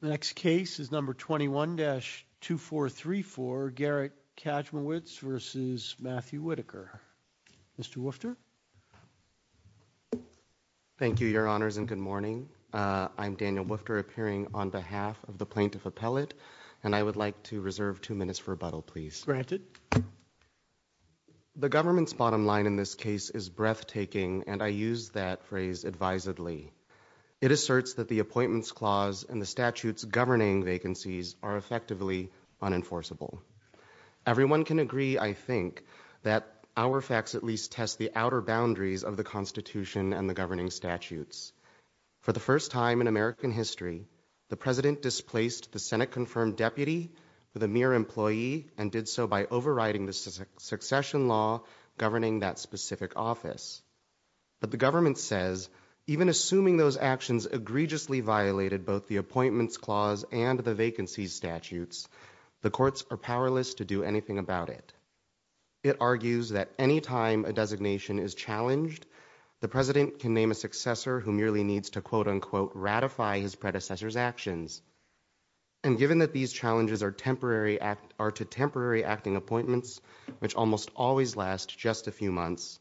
The next case is number 21-2434, Garrett Kajmowicz v. Matthew Whitaker. Mr. Woofter. Thank you, your honors, and good morning. I'm Daniel Woofter, appearing on behalf of the plaintiff appellate, and I would like to reserve two minutes for rebuttal, please. Granted. The government's bottom line in this case is breathtaking, and I use that phrase advisedly. It asserts that the appointments clause and the statute's governing vacancies are effectively unenforceable. Everyone can agree, I think, that our facts at least test the outer boundaries of the Constitution and the governing statutes. For the first time in American history, the president displaced the Senate-confirmed deputy with a mere employee and did so by overriding the succession law governing that specific office. But the government says, even assuming those actions egregiously violated both the appointments clause and the vacancies statutes, the courts are powerless to do anything about it. It argues that any time a designation is challenged, the president can name a successor who merely needs to quote-unquote ratify his predecessor's actions. And given that these challenges are to temporary acting appointments, which almost always last just a few months,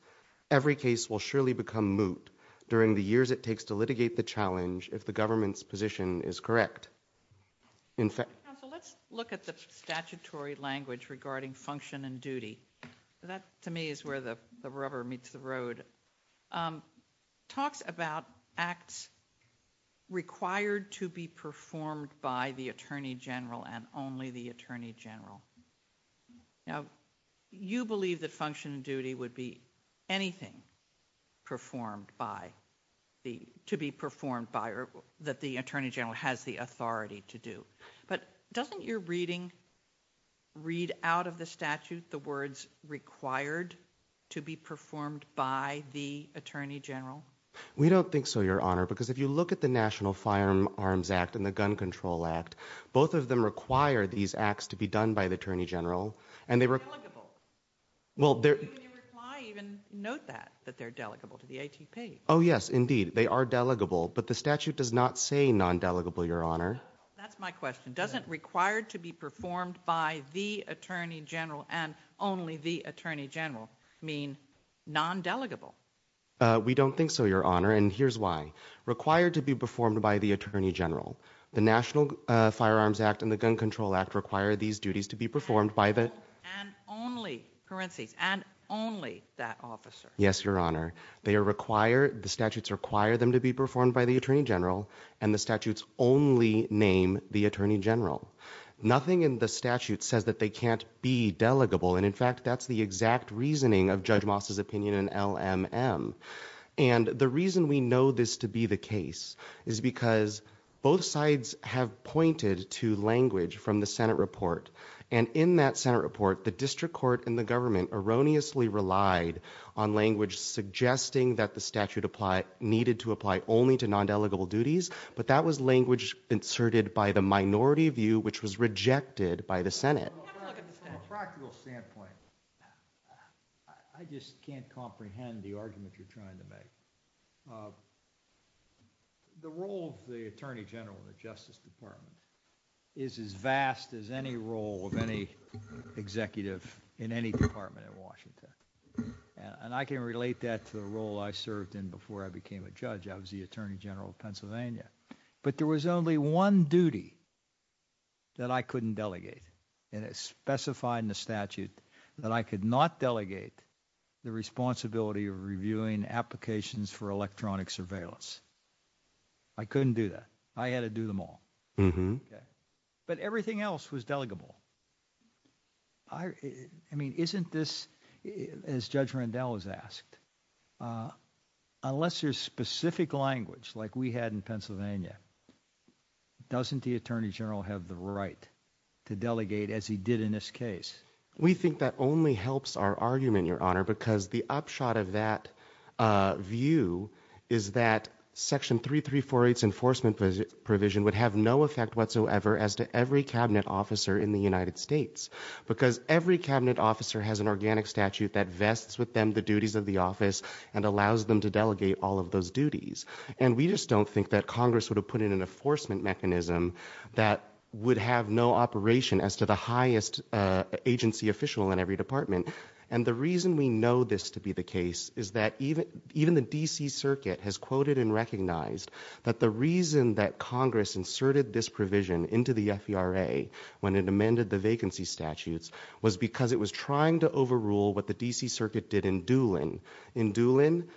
every case will surely become moot during the years it takes to litigate the challenge if the government's position is correct. In fact... Counsel, let's look at the statutory language regarding function and duty. That, to me, is where the rubber meets the road. Talks about acts required to be performed by the attorney general and only the attorney general. Now, you believe that function and duty would be anything performed by, to be performed by, or that the attorney general has the authority to do. But doesn't your reading read out of the statute the words required to be performed by the attorney general? We don't think so, Your Honor, because if you look at the National Firearms Act and the Gun Control Act, both of them require these acts to be done by the attorney general. And they're delegable. In your reply, you even note that, that they're delegable to the ATP. Oh, yes, indeed. They are delegable. But the statute does not say non-delegable, Your Honor. That's my question. Doesn't required to be performed by the attorney general and only the attorney general mean non-delegable? We don't think so, Your Honor, and here's why. Required to be performed by the attorney general. The National Firearms Act and the Gun Control Act require these duties to be performed by the- And only, parentheses, and only that officer. Yes, Your Honor. They are required, the statutes require them to be performed by the attorney general and the statutes only name the attorney general. Nothing in the statute says that they can't be delegable. And in fact, that's the exact reasoning of Judge Moss' opinion in LMM. And the reason we know this to be the case is because both sides have pointed to language from the Senate report. And in that Senate report, the district court and the government erroneously relied on language suggesting that the statute needed to apply only to non-delegable duties. But that was language inserted by the minority view, which was rejected by the Senate. From a practical standpoint, I just can't comprehend the argument you're trying to make. The role of the attorney general in the Justice Department is as vast as any role of any executive in any department in Washington. And I can relate that to the role I served in before I became a judge. I was the attorney general of Pennsylvania. But there was only one duty that I couldn't delegate. And it's specified in the statute that I could not delegate the responsibility of reviewing applications for electronic surveillance. I couldn't do that. I had to do them all. But everything else was delegable. I mean, isn't this, as Judge Rendell has asked, uh, unless there's specific language like we had in Pennsylvania, doesn't the attorney general have the right to delegate as he did in this case? We think that only helps our argument, Your Honor, because the upshot of that view is that Section 3348's enforcement provision would have no effect whatsoever as to every cabinet officer in the United States. Because every cabinet officer has an organic statute that vests with them the duties of the office and allows them to delegate all of those duties. And we just don't think that Congress would have put in an enforcement mechanism that would have no operation as to the highest agency official in every department. And the reason we know this to be the case is that even the D.C. Circuit has quoted and recognized that the reason that Congress inserted this provision into the FERA when it amended the D.C. Circuit did in Doolin. In Doolin,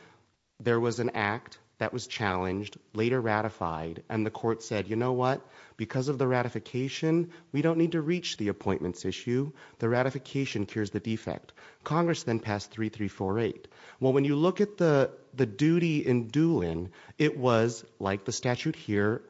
there was an act that was challenged, later ratified, and the court said, you know what? Because of the ratification, we don't need to reach the appointments issue. The ratification cures the defect. Congress then passed 3348. Well, when you look at the duty in Doolin, it was, like the statute here,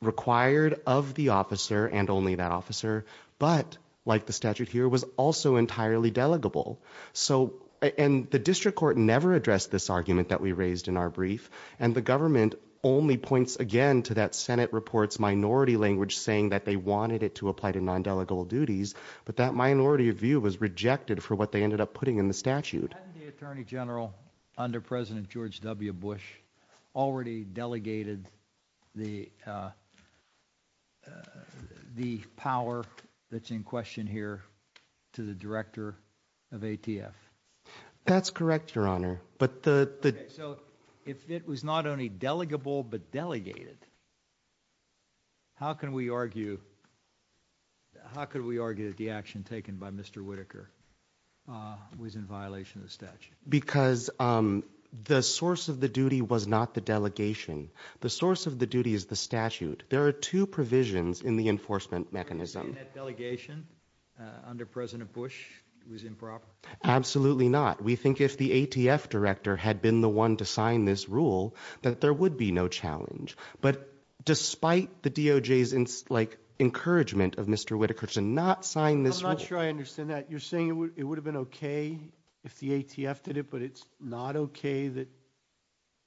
required of the officer and only that officer, but, like the statute here, was also entirely delegable. So, and the district court never addressed this argument that we raised in our brief, and the government only points again to that Senate report's minority language saying that they wanted it to apply to non-delegable duties, but that minority of view was rejected for what they ended up putting in the statute. Hadn't the Attorney General, under President George W. Bush, already delegated the, uh, the power that's in question here to the Director of ATF? That's correct, Your Honor, but the, the... So, if it was not only delegable, but delegated, how can we argue, how could we argue that the action taken by Mr. Whitaker, uh, was in violation of the statute? Because, um, the source of the duty was not the delegation. The source of the duty is the statute. There are two provisions in the enforcement mechanism. In that delegation, under President Bush, it was improper? Absolutely not. We think if the ATF director had been the one to sign this rule, that there would be no challenge. But despite the DOJ's, like, encouragement of Mr. Whitaker to not sign this rule... I'm not sure I understand that. You're saying it would have been okay if the ATF did it, but it's not okay that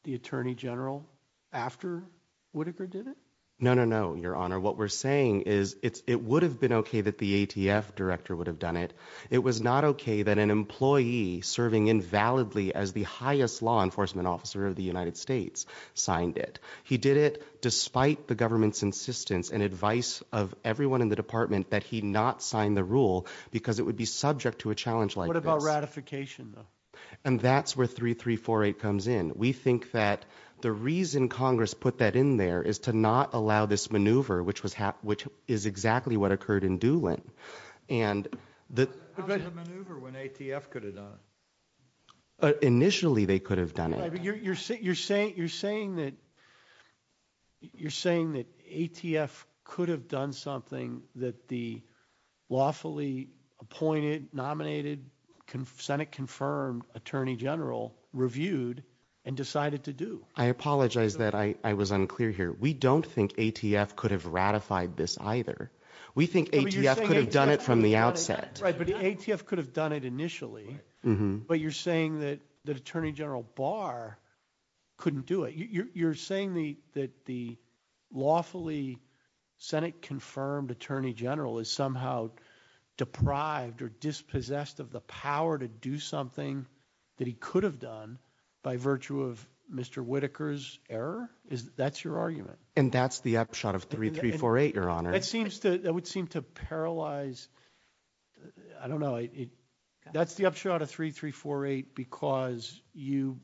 the Attorney General, after Whitaker, did it? No, no, no, Your Honor. What we're saying is it would have been okay that the ATF director would have done it. It was not okay that an employee serving invalidly as the highest law enforcement officer of the United States signed it. He did it despite the government's insistence and advice of everyone in the department that he not sign the rule because it would be subject to a challenge like this. What about ratification, though? And that's where 3348 comes in. We think that the reason Congress put that in there is to not allow this maneuver, which was hap... which is exactly what occurred in Doolin. And the... How was it a maneuver when ATF could have done it? Initially, they could have done it. You're saying... you're saying that... you're saying that ATF could have done something that the lawfully appointed, nominated, Senate-confirmed Attorney General reviewed and decided to do. I apologize that I was unclear here. We don't think ATF could have ratified this either. We think ATF could have done it from the outset. Right, but ATF could have done it initially. But you're saying that... that Attorney General Barr couldn't do it. You're saying that the lawfully Senate-confirmed Attorney General is somehow deprived or dispossessed of the power to do something that he could have done by virtue of Mr. Whitaker's error? That's your argument? And that's the upshot of 3348, Your Honor. It seems to... it would seem to paralyze... I don't know, it... that's the upshot of 3348 because you...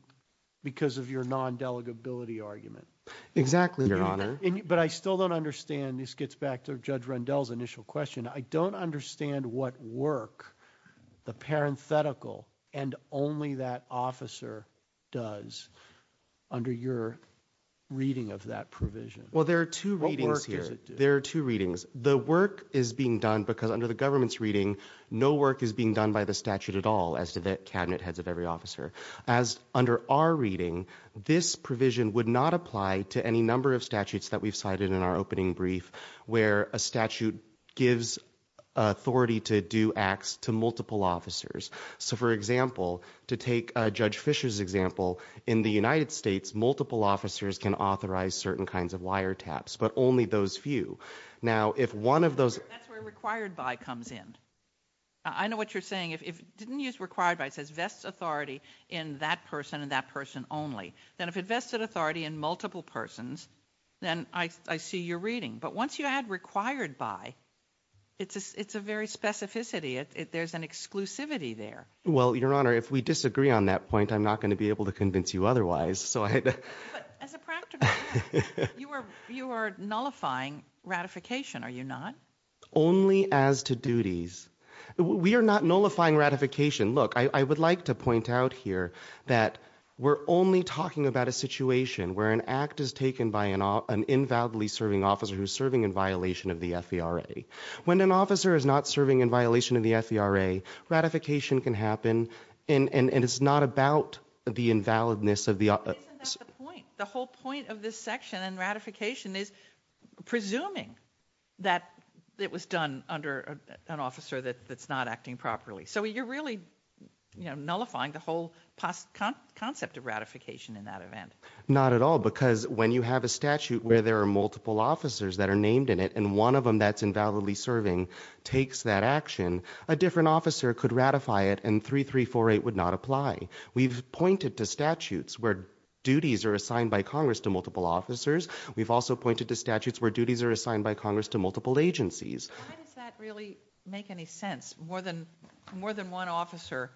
because of your non-delegability argument. Exactly, Your Honor. But I still don't understand... this gets back to Judge Rundell's initial question. I don't understand what work the parenthetical and only that officer does under your reading of that provision. Well, there are two readings here. There are two readings. The work is being done because under the government's reading, no work is being done by the statute at all as to the cabinet heads of every officer. As under our reading, this provision would not apply to any number of statutes that we've cited in our opening brief where a statute gives authority to do acts to multiple officers. So, for example, to take Judge Fischer's example, in the United States, multiple officers can authorize certain kinds of wiretaps, but only those few. Now, if one of those... That's where required by comes in. I know what you're saying. If... didn't you use required by? It says vests authority in that person and that person only. Then if it vested authority in multiple persons, then I see your reading. But once you add required by, it's a very specificity. There's an exclusivity there. Well, Your Honor, if we disagree on that point, I'm not going to be able to convince you otherwise. But as a practical matter, you are nullifying ratification, are you not? Only as to duties. We are not nullifying ratification. Look, I would like to point out here that we're only talking about a situation where an act is taken by an invalidly serving officer who's serving in violation of the FVRA. When an officer is not serving in violation of the FVRA, ratification can happen. And it's not about the invalidness of the... But isn't that the point? The whole point of this section and ratification is presuming that it was done under an officer that's not acting properly. So you're really nullifying the whole concept of ratification in that event. Not at all. Because when you have a statute where there are multiple officers that are named in it, and one of them that's invalidly serving takes that action, a different officer could ratify it and 3348 would not apply. We've pointed to statutes where duties are assigned by Congress to multiple officers. We've also pointed to statutes where duties are assigned by Congress to multiple agencies. Why does that really make any sense? More than one officer,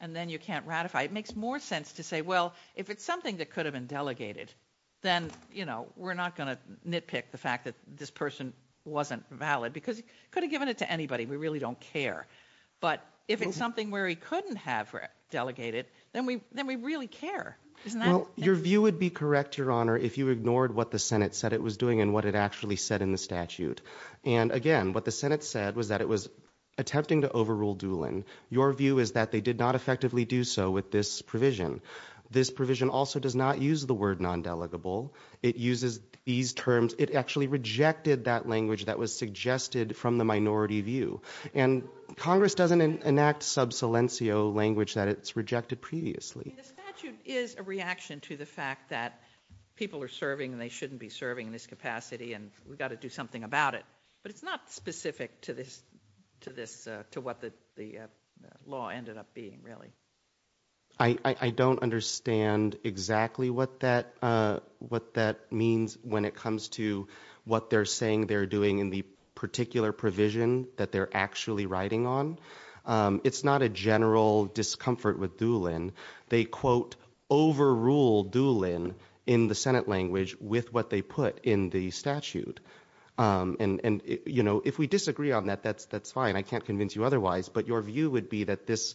and then you can't ratify. It makes more sense to say, well, if it's something that could have been delegated, then, you know, we're not going to nitpick the fact that this person wasn't valid because he could have given it to anybody. We really don't care. But if it's something where he couldn't have delegated, then we really care. Your view would be correct, Your Honor, if you ignored what the Senate said it was doing and what it actually said in the statute. And again, what the Senate said was that it was attempting to overrule Doolin. Your view is that they did not effectively do so with this provision. This provision also does not use the word non-delegable. It uses these terms. It actually rejected that language that was suggested from the minority view. And Congress doesn't enact sub silencio language that it's rejected previously. The statute is a reaction to the fact that people are serving, and they shouldn't be serving in this capacity, and we've got to do something about it. But it's not specific to this, to what the law ended up being, really. I don't understand exactly what that means when it comes to what they're saying they're doing in the particular provision that they're actually writing on. It's not a general discomfort with Doolin. They, quote, overrule Doolin in the Senate language with what they put in the statute. And, you know, if we disagree on that, that's fine. I can't convince you otherwise. But your view would be that this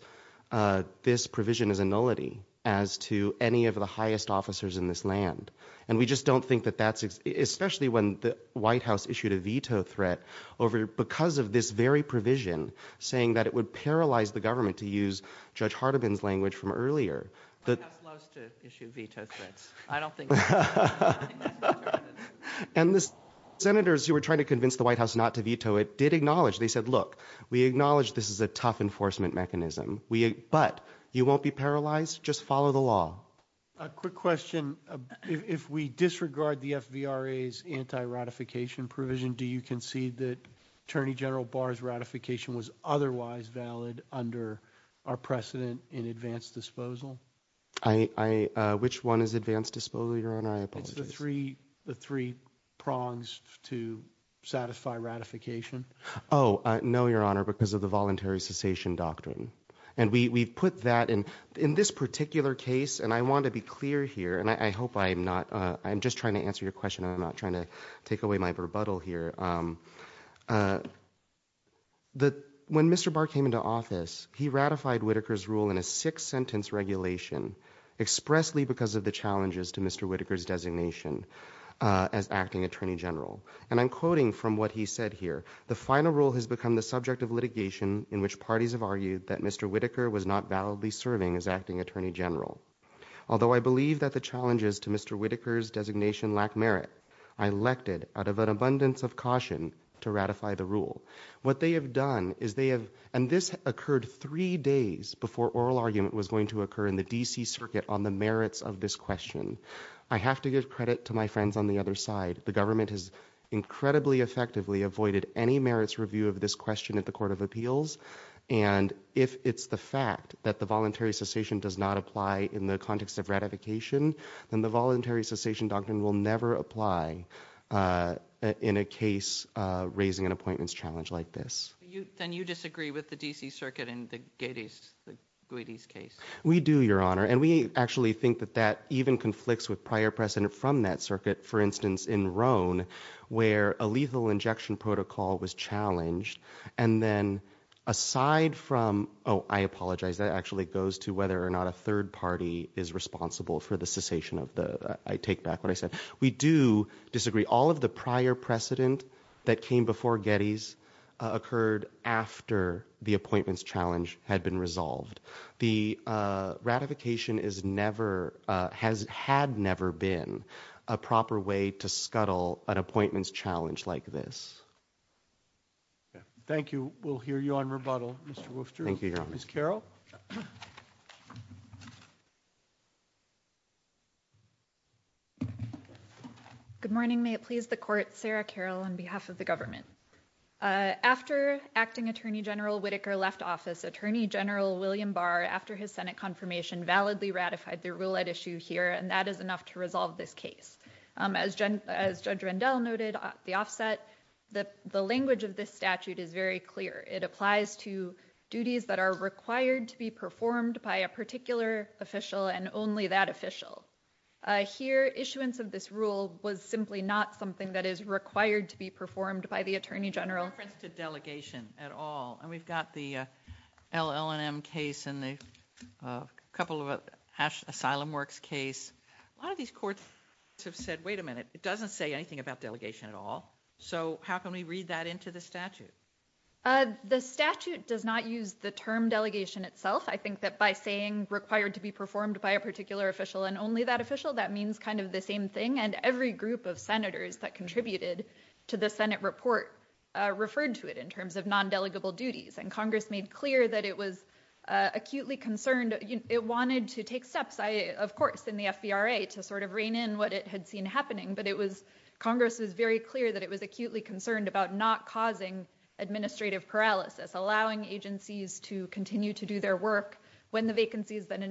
provision is a nullity as to any of the highest officers in this land. And we just don't think that that's, especially when the White House issued a veto threat over, because of this very provision, saying that it would paralyze the government to use Judge Hardiman's language from earlier. The White House loves to issue veto threats. I don't think that's true. And the senators who were trying to convince the White House not to veto it did acknowledge. They said, look, we acknowledge this is a tough enforcement mechanism, but you won't be paralyzed. Just follow the law. A quick question. If we disregard the FVRA's anti-ratification provision, do you concede that Attorney General Barr's ratification was otherwise valid under our precedent in advanced disposal? Which one is advanced disposal, Your Honor? I apologize. The three prongs to satisfy ratification. Oh, no, Your Honor, because of the voluntary cessation doctrine. And we put that in this particular case. And I want to be clear here, and I hope I'm not. I'm just trying to answer your question. I'm not trying to take away my rebuttal here. When Mr. Barr came into office, he ratified Whitaker's rule in a six-sentence regulation expressly because of the challenges to Mr. Whitaker's designation as acting Attorney General. And I'm quoting from what he said here. The final rule has become the subject of litigation in which parties have argued that Mr. Whitaker was not validly serving as acting Attorney General. Although I believe that the challenges to Mr. Whitaker's designation lack merit, I elected out of an abundance of caution to ratify the rule. What they have done is they have, and this occurred three days before oral argument was going to occur in the D.C. Circuit on the merits of this question. I have to give credit to my friends on the other side. The government has incredibly effectively avoided any merits review of this question at the Court of Appeals. And if it's the fact that the voluntary cessation does not apply in the context of ratification, then the voluntary cessation doctrine will never apply in a case raising an appointments challenge like this. Then you disagree with the D.C. Circuit in the Guides case? We do, Your Honor. And we actually think that that even conflicts with prior precedent from that circuit. For instance, in Roan, where a lethal injection protocol was challenged. And then aside from, oh, I apologize. That actually goes to whether or not a third party is responsible for the cessation of the, I take back what I said. We do disagree. All of the prior precedent that came before Getty's occurred after the appointments challenge had been resolved. The ratification is never, has had never been a proper way to scuttle an appointments challenge like this. Thank you. We'll hear you on rebuttal, Mr. Wooster. Thank you, Your Honor. Ms. Carroll. Good morning. May it please the Court. Sarah Carroll on behalf of the government. Uh, after Acting Attorney General Whitaker left office, Attorney General William Barr, after his Senate confirmation, validly ratified the rule at issue here. And that is enough to resolve this case. As Judge Rendell noted, the offset, the language of this statute is very clear. It applies to duties that are required to be performed by a particular official and only that official. Here, issuance of this rule was simply not something that is required to be performed by the Attorney General. No reference to delegation at all. And we've got the, uh, LL&M case and the, uh, couple of, uh, Ash Asylum Works case. A lot of these courts have said, wait a minute, it doesn't say anything about delegation at all. So how can we read that into the statute? Uh, the statute does not use the term delegation itself. I think that by saying required to be performed by a particular official and only that official, that means kind of the same thing. And every group of senators that contributed to the Senate report, uh, referred to it in terms of non-delegable duties. And Congress made clear that it was, uh, acutely concerned. It wanted to take steps. I, of course, in the FVRA to sort of rein in what it had seen happening, but it was, Congress was very clear that it was acutely concerned about not causing administrative paralysis, allowing agencies to continue to do their work when the vacancies that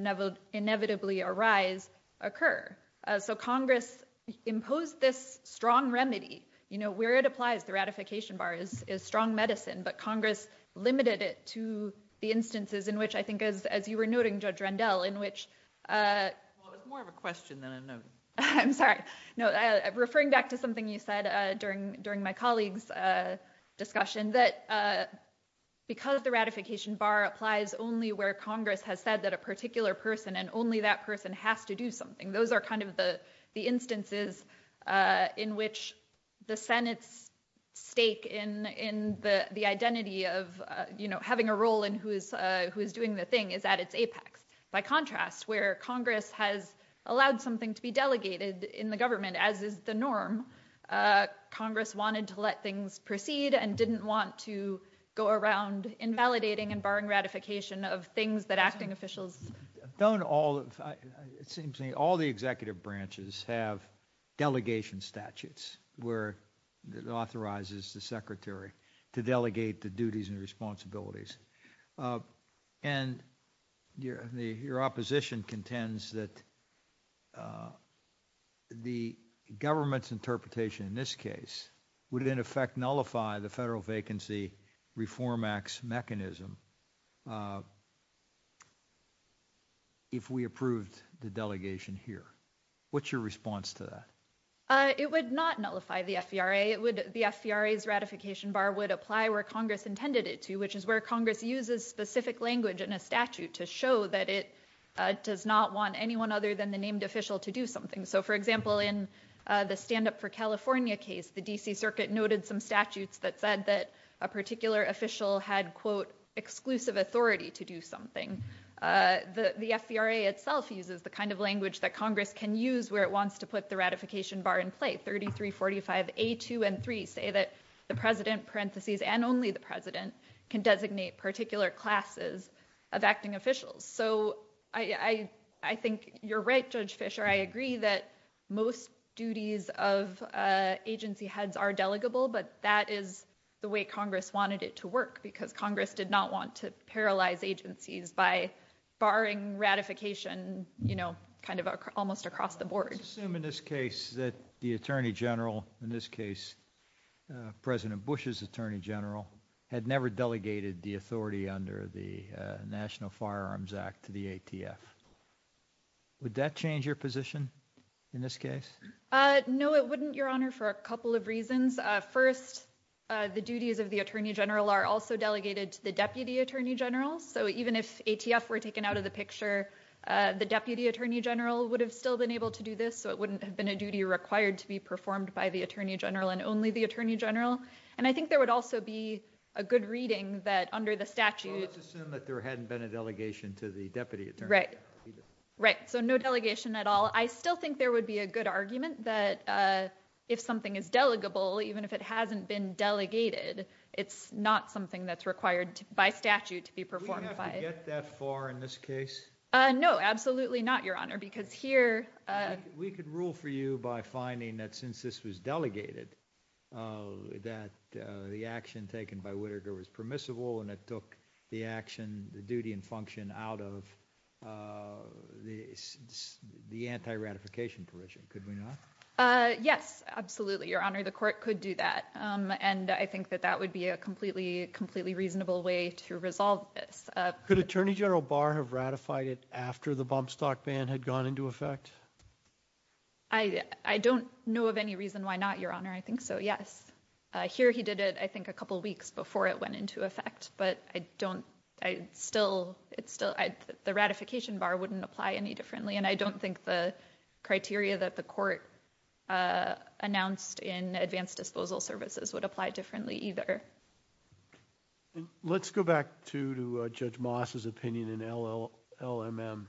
inevitably arise occur. So Congress imposed this strong remedy, you know, where it applies, the ratification bar is, is strong medicine, but Congress limited it to the instances in which I think as, as you were noting, Judge Rendell, in which, uh, well, it was more of a question than a note. I'm sorry. No, referring back to something you said, uh, during, during my colleagues, uh, discussion that, uh, because the ratification bar applies only where Congress has said that a particular person and only that person has to do something. Those are kind of the, the instances, uh, in which the Senate's stake in, in the, the identity of, uh, you know, having a role in who's, uh, who is doing the thing is at its apex. By contrast, where Congress has allowed something to be delegated in the government, as is the norm, uh, Congress wanted to let things proceed and didn't want to go around invalidating and barring ratification of things that acting officials. Don't all, it seems to me, all the executive branches have delegation statutes where it authorizes the secretary to delegate the duties and responsibilities, uh, and your, the, your opposition contends that, uh, the government's interpretation in this case would in effect nullify the Federal Vacancy Reform Act's mechanism, uh, if we approved the delegation here. What's your response to that? Uh, it would not nullify the FVRA. It would, the FVRA's ratification bar would apply where Congress intended it to, which is where Congress uses specific language in a statute to show that it, uh, does not want anyone other than the named official to do something. So for example, in, uh, the stand up for California case, the DC circuit noted some statutes that said that a particular official had quote, exclusive authority to do something. Uh, the, the FVRA itself uses the kind of language that Congress can use where it wants to put the ratification bar in play. 33, 45, a two and three say that the president parentheses and only the president can designate particular classes of acting officials. So I, I, I think you're right, Judge Fisher. I agree that most duties of, uh, agency heads are delegable, but that is the way Congress wanted it to work because Congress did not want to paralyze agencies by barring ratification, you know, kind of almost across the board. Let's assume in this case that the attorney general, in this case, uh, President Bush's firearms act to the ATF. Would that change your position in this case? Uh, no, it wouldn't your honor for a couple of reasons. Uh, first, uh, the duties of the attorney general are also delegated to the deputy attorney general. So even if ATF were taken out of the picture, uh, the deputy attorney general would have still been able to do this. So it wouldn't have been a duty required to be performed by the attorney general and only the attorney general. And I think there would also be a good reading that under the statute, that there hadn't been a delegation to the deputy attorney general. Right, right. So no delegation at all. I still think there would be a good argument that, uh, if something is delegable, even if it hasn't been delegated, it's not something that's required by statute to be performed. Would you have to get that far in this case? Uh, no, absolutely not your honor, because here, uh, We could rule for you by finding that since this was delegated, uh, that, uh, the action taken by Whittaker was permissible and it took the action, the duty and function out of, uh, the, the anti-ratification permission. Could we not? Uh, yes, absolutely. Your honor, the court could do that. Um, and I think that that would be a completely, completely reasonable way to resolve this. Uh, could attorney general Barr have ratified it after the bump stock ban had gone into effect? I, I don't know of any reason why not your honor. I think so. Yes, uh, here he did it, I think a couple of weeks before it went into effect, but I don't, I still, it's still, I, the ratification bar wouldn't apply any differently. And I don't think the criteria that the court, uh, announced in advanced disposal services would apply differently either. Let's go back to, uh, Judge Moss's opinion in LL, LMM.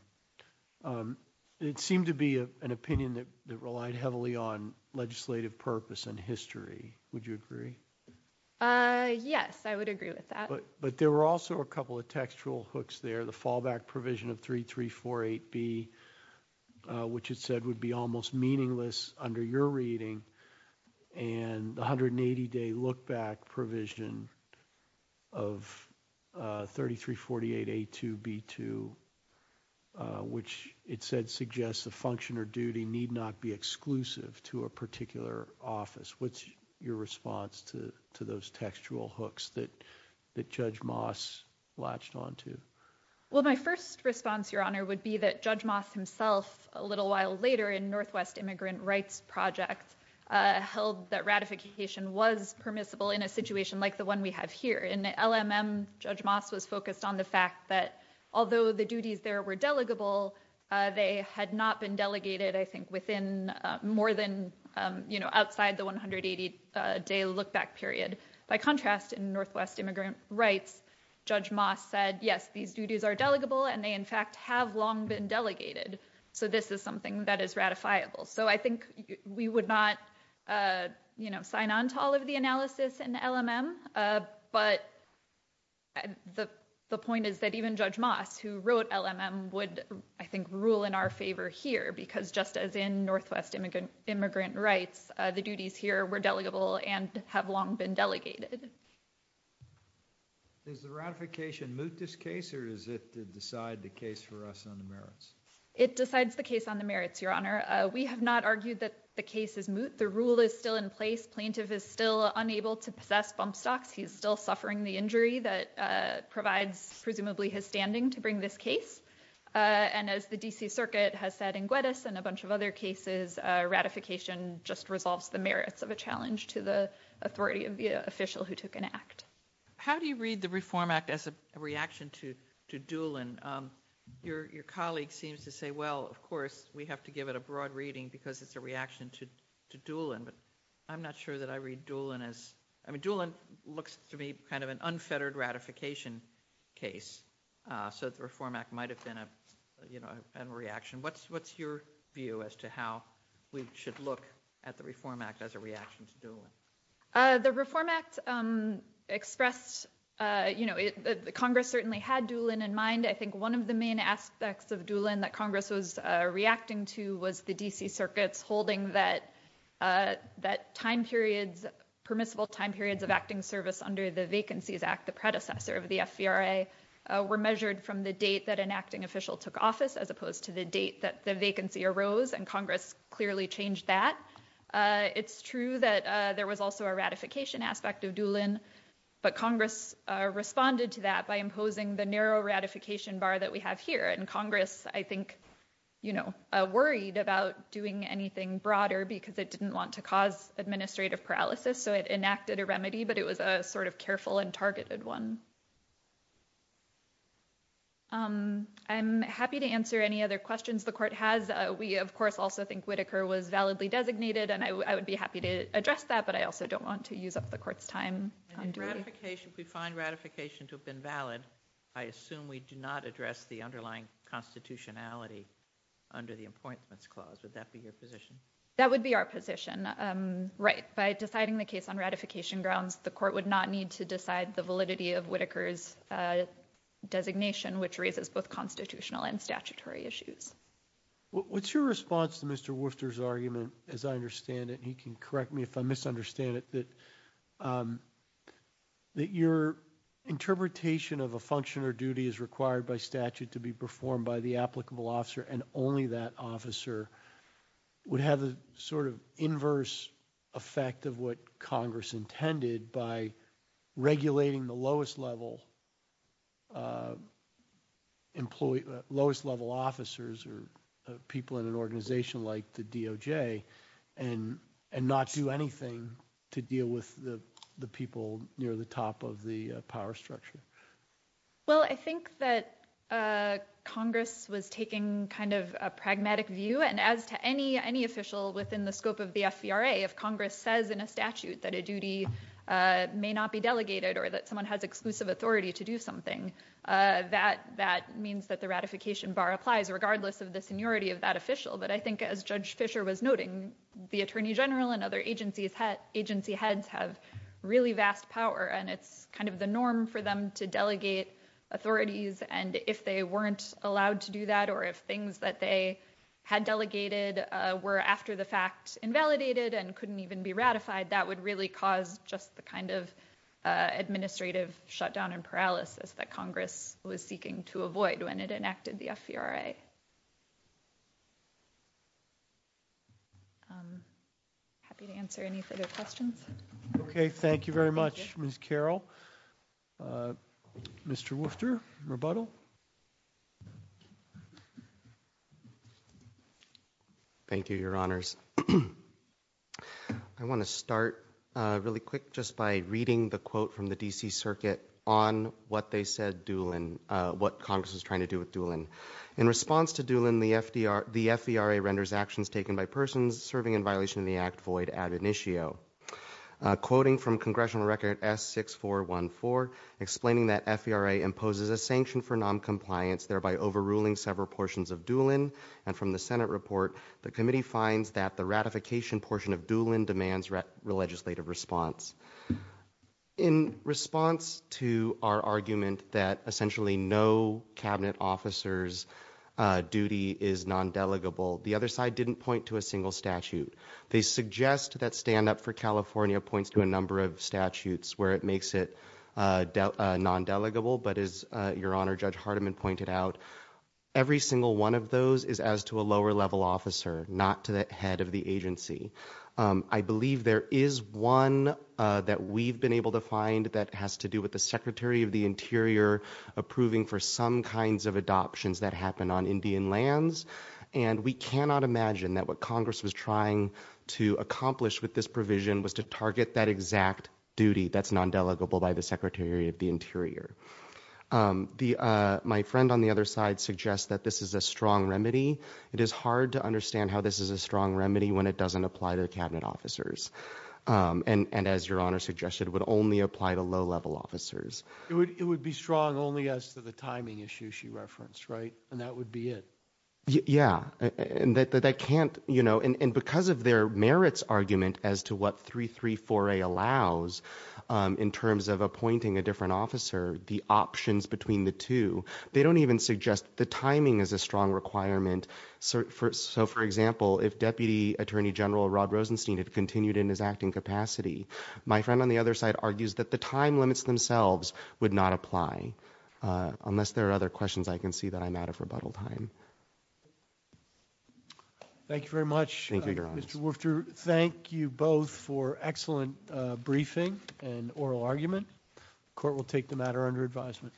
Um, it seemed to be an opinion that, that relied heavily on legislative purpose and history. Would you agree? Uh, yes, I would agree with that. But there were also a couple of textual hooks there. The fallback provision of 3348B, uh, which it said would be almost meaningless under your reading and 180 day look back provision of, uh, 3348A2B2, uh, which it said suggests the function or duty need not be exclusive to a particular office. What's your response to, to those textual hooks that, that Judge Moss latched onto? Well, my first response, your honor, would be that Judge Moss himself, a little while later in Northwest Immigrant Rights Project, uh, held that ratification was permissible in a situation like the one we have here. In LLMM, Judge Moss was focused on the fact that although the duties there were delegable, uh, they had not been delegated, I think, within, uh, more than, um, you know, outside the 180, uh, day look back period. By contrast, in Northwest Immigrant Rights, Judge Moss said, yes, these duties are delegable and they in fact have long been delegated. So this is something that is ratifiable. So I think we would not, uh, you know, sign on to all of the analysis in LLMM, uh, but the, the point is that even Judge Moss who wrote LLMM would, I think, rule in our favor here because just as in Northwest Immigrant, Immigrant Rights, uh, the duties here were delegable and have long been delegated. Is the ratification moot this case or is it to decide the case for us on the merits? It decides the case on the merits, Your Honor. We have not argued that the case is moot. The rule is still in place. Plaintiff is still unable to possess bump stocks. He's still suffering the injury that, uh, provides presumably his standing to bring this case. Uh, and as the DC Circuit has said in Gwedis and a bunch of other cases, uh, ratification just resolves the merits of a challenge to the authority of the official who took an act. How do you read the Reform Act as a reaction to, to Doolin? Um, your, your colleague seems to say, well, of course we have to give it a broad reading because it's a reaction to, to Doolin, but I'm not sure that I read Doolin as, I mean, Doolin looks to me kind of an unfettered ratification case, uh, so the Reform Act might have been a, you know, a reaction. What's, what's your view as to how we should look at the Reform Act as a reaction to Doolin? Uh, the Reform Act, um, expressed, uh, you know, Congress certainly had Doolin in mind. I think one of the main aspects of Doolin that Congress was reacting to was the DC Circuit's holding that, uh, that time periods, permissible time periods of acting service under the Vacancies Act, the predecessor of the FVRA, uh, were measured from the date that an acting official took office as opposed to the date that the vacancy arose and Congress clearly changed that. Uh, it's true that, uh, there was also a ratification aspect of Doolin, but Congress, uh, responded to that by imposing the narrow ratification bar that we have here. And Congress, I think, you know, uh, worried about doing anything broader because it didn't want to cause administrative paralysis. So it enacted a remedy, but it was a sort of careful and targeted one. Um, I'm happy to answer any other questions the Court has. We, of course, also think Whitaker was validly designated and I would be happy to address that, but I also don't want to use up the Court's time. And in ratification, if we find ratification to have been valid, I assume we do not address the underlying constitutionality under the Appointments Clause. Would that be your position? That would be our position, um, right. By deciding the case on ratification grounds, the Court would not need to decide the validity of Whitaker's, uh, designation, which raises both constitutional and statutory issues. What's your response to Mr. Wooster's argument, as I understand it, and he can correct me if I misunderstand it, that, um, that your interpretation of a function or duty as required by statute to be performed by the applicable officer and only that officer would have the sort of inverse effect of what Congress intended by regulating the lowest level, uh, employee, lowest level officers or people in an organization like the DOJ and, and not do anything to deal with the, the people near the top of the power structure? Well, I think that, uh, Congress was taking kind of a pragmatic view and as to any, any official within the scope of the FVRA, if Congress says in a statute that a duty, uh, may not be delegated or that someone has exclusive authority to do something, uh, that, that means that the ratification bar applies regardless of the seniority of that official. But I think as Judge Fisher was noting, the Attorney General and other agencies had, agency heads have really vast power and it's kind of the norm for them to delegate authorities. And if they weren't allowed to do that, or if things that they had delegated, uh, were after the fact invalidated and couldn't even be ratified, that would really cause just the kind of, uh, administrative shutdown and paralysis that Congress was seeking to avoid when it enacted the FVRA. I'm happy to answer any further questions. Okay. Thank you very much, Ms. Carroll. Uh, Mr. Wooster, rebuttal. Thank you, Your Honors. I want to start, uh, really quick just by reading the quote from the D.C. Circuit on what they said Doolin, uh, what Congress was trying to do with Doolin. In response to Doolin, the FDR, the FVRA renders actions taken by persons serving in violation of the Act Void ad initio. Quoting from Congressional Record S6414, explaining that FVRA imposes a sanction for noncompliance, thereby overruling several portions of Doolin. And from the Senate report, the committee finds that the ratification portion of Doolin demands re- legislative response. In response to our argument that essentially no Cabinet officer's, uh, duty is non-delegable, the other side didn't point to a single statute. They suggest that stand up for California points to a number of statutes where it makes it, uh, non-delegable. But as, uh, Your Honor, Judge Hardiman pointed out, every single one of those is as to a lower level officer, not to the head of the agency. Um, I believe there is one, uh, that we've been able to find that has to do with the Secretary of the Interior approving for some kinds of adoptions that happen on Indian lands. And we cannot imagine that what Congress was trying to accomplish with this provision was to target that exact duty that's non-delegable by the Secretary of the Interior. Um, the, uh, my friend on the other side suggests that this is a strong remedy. It is hard to understand how this is a strong remedy when it doesn't apply to Cabinet officers. Um, and, and as Your Honor suggested, it would only apply to low-level officers. It would, it would be strong only as to the timing issue she referenced, right? And that would be it. Yeah, and that, that can't, you know, and, and because of their merits argument as to what 334A allows, um, in terms of appointing a different officer, the options between the two, they don't even suggest the timing is a strong requirement. So, for, so for example, if Deputy Attorney General Rod Rosenstein had continued in his acting capacity, my friend on the other side argues that the time limits themselves would not apply, uh, unless there are other questions I can see that I'm out of rebuttal time. Thank you very much. Thank you, Your Honor. Mr. Wolfter, thank you both for excellent, uh, briefing and oral argument. Court will take the matter under advisement.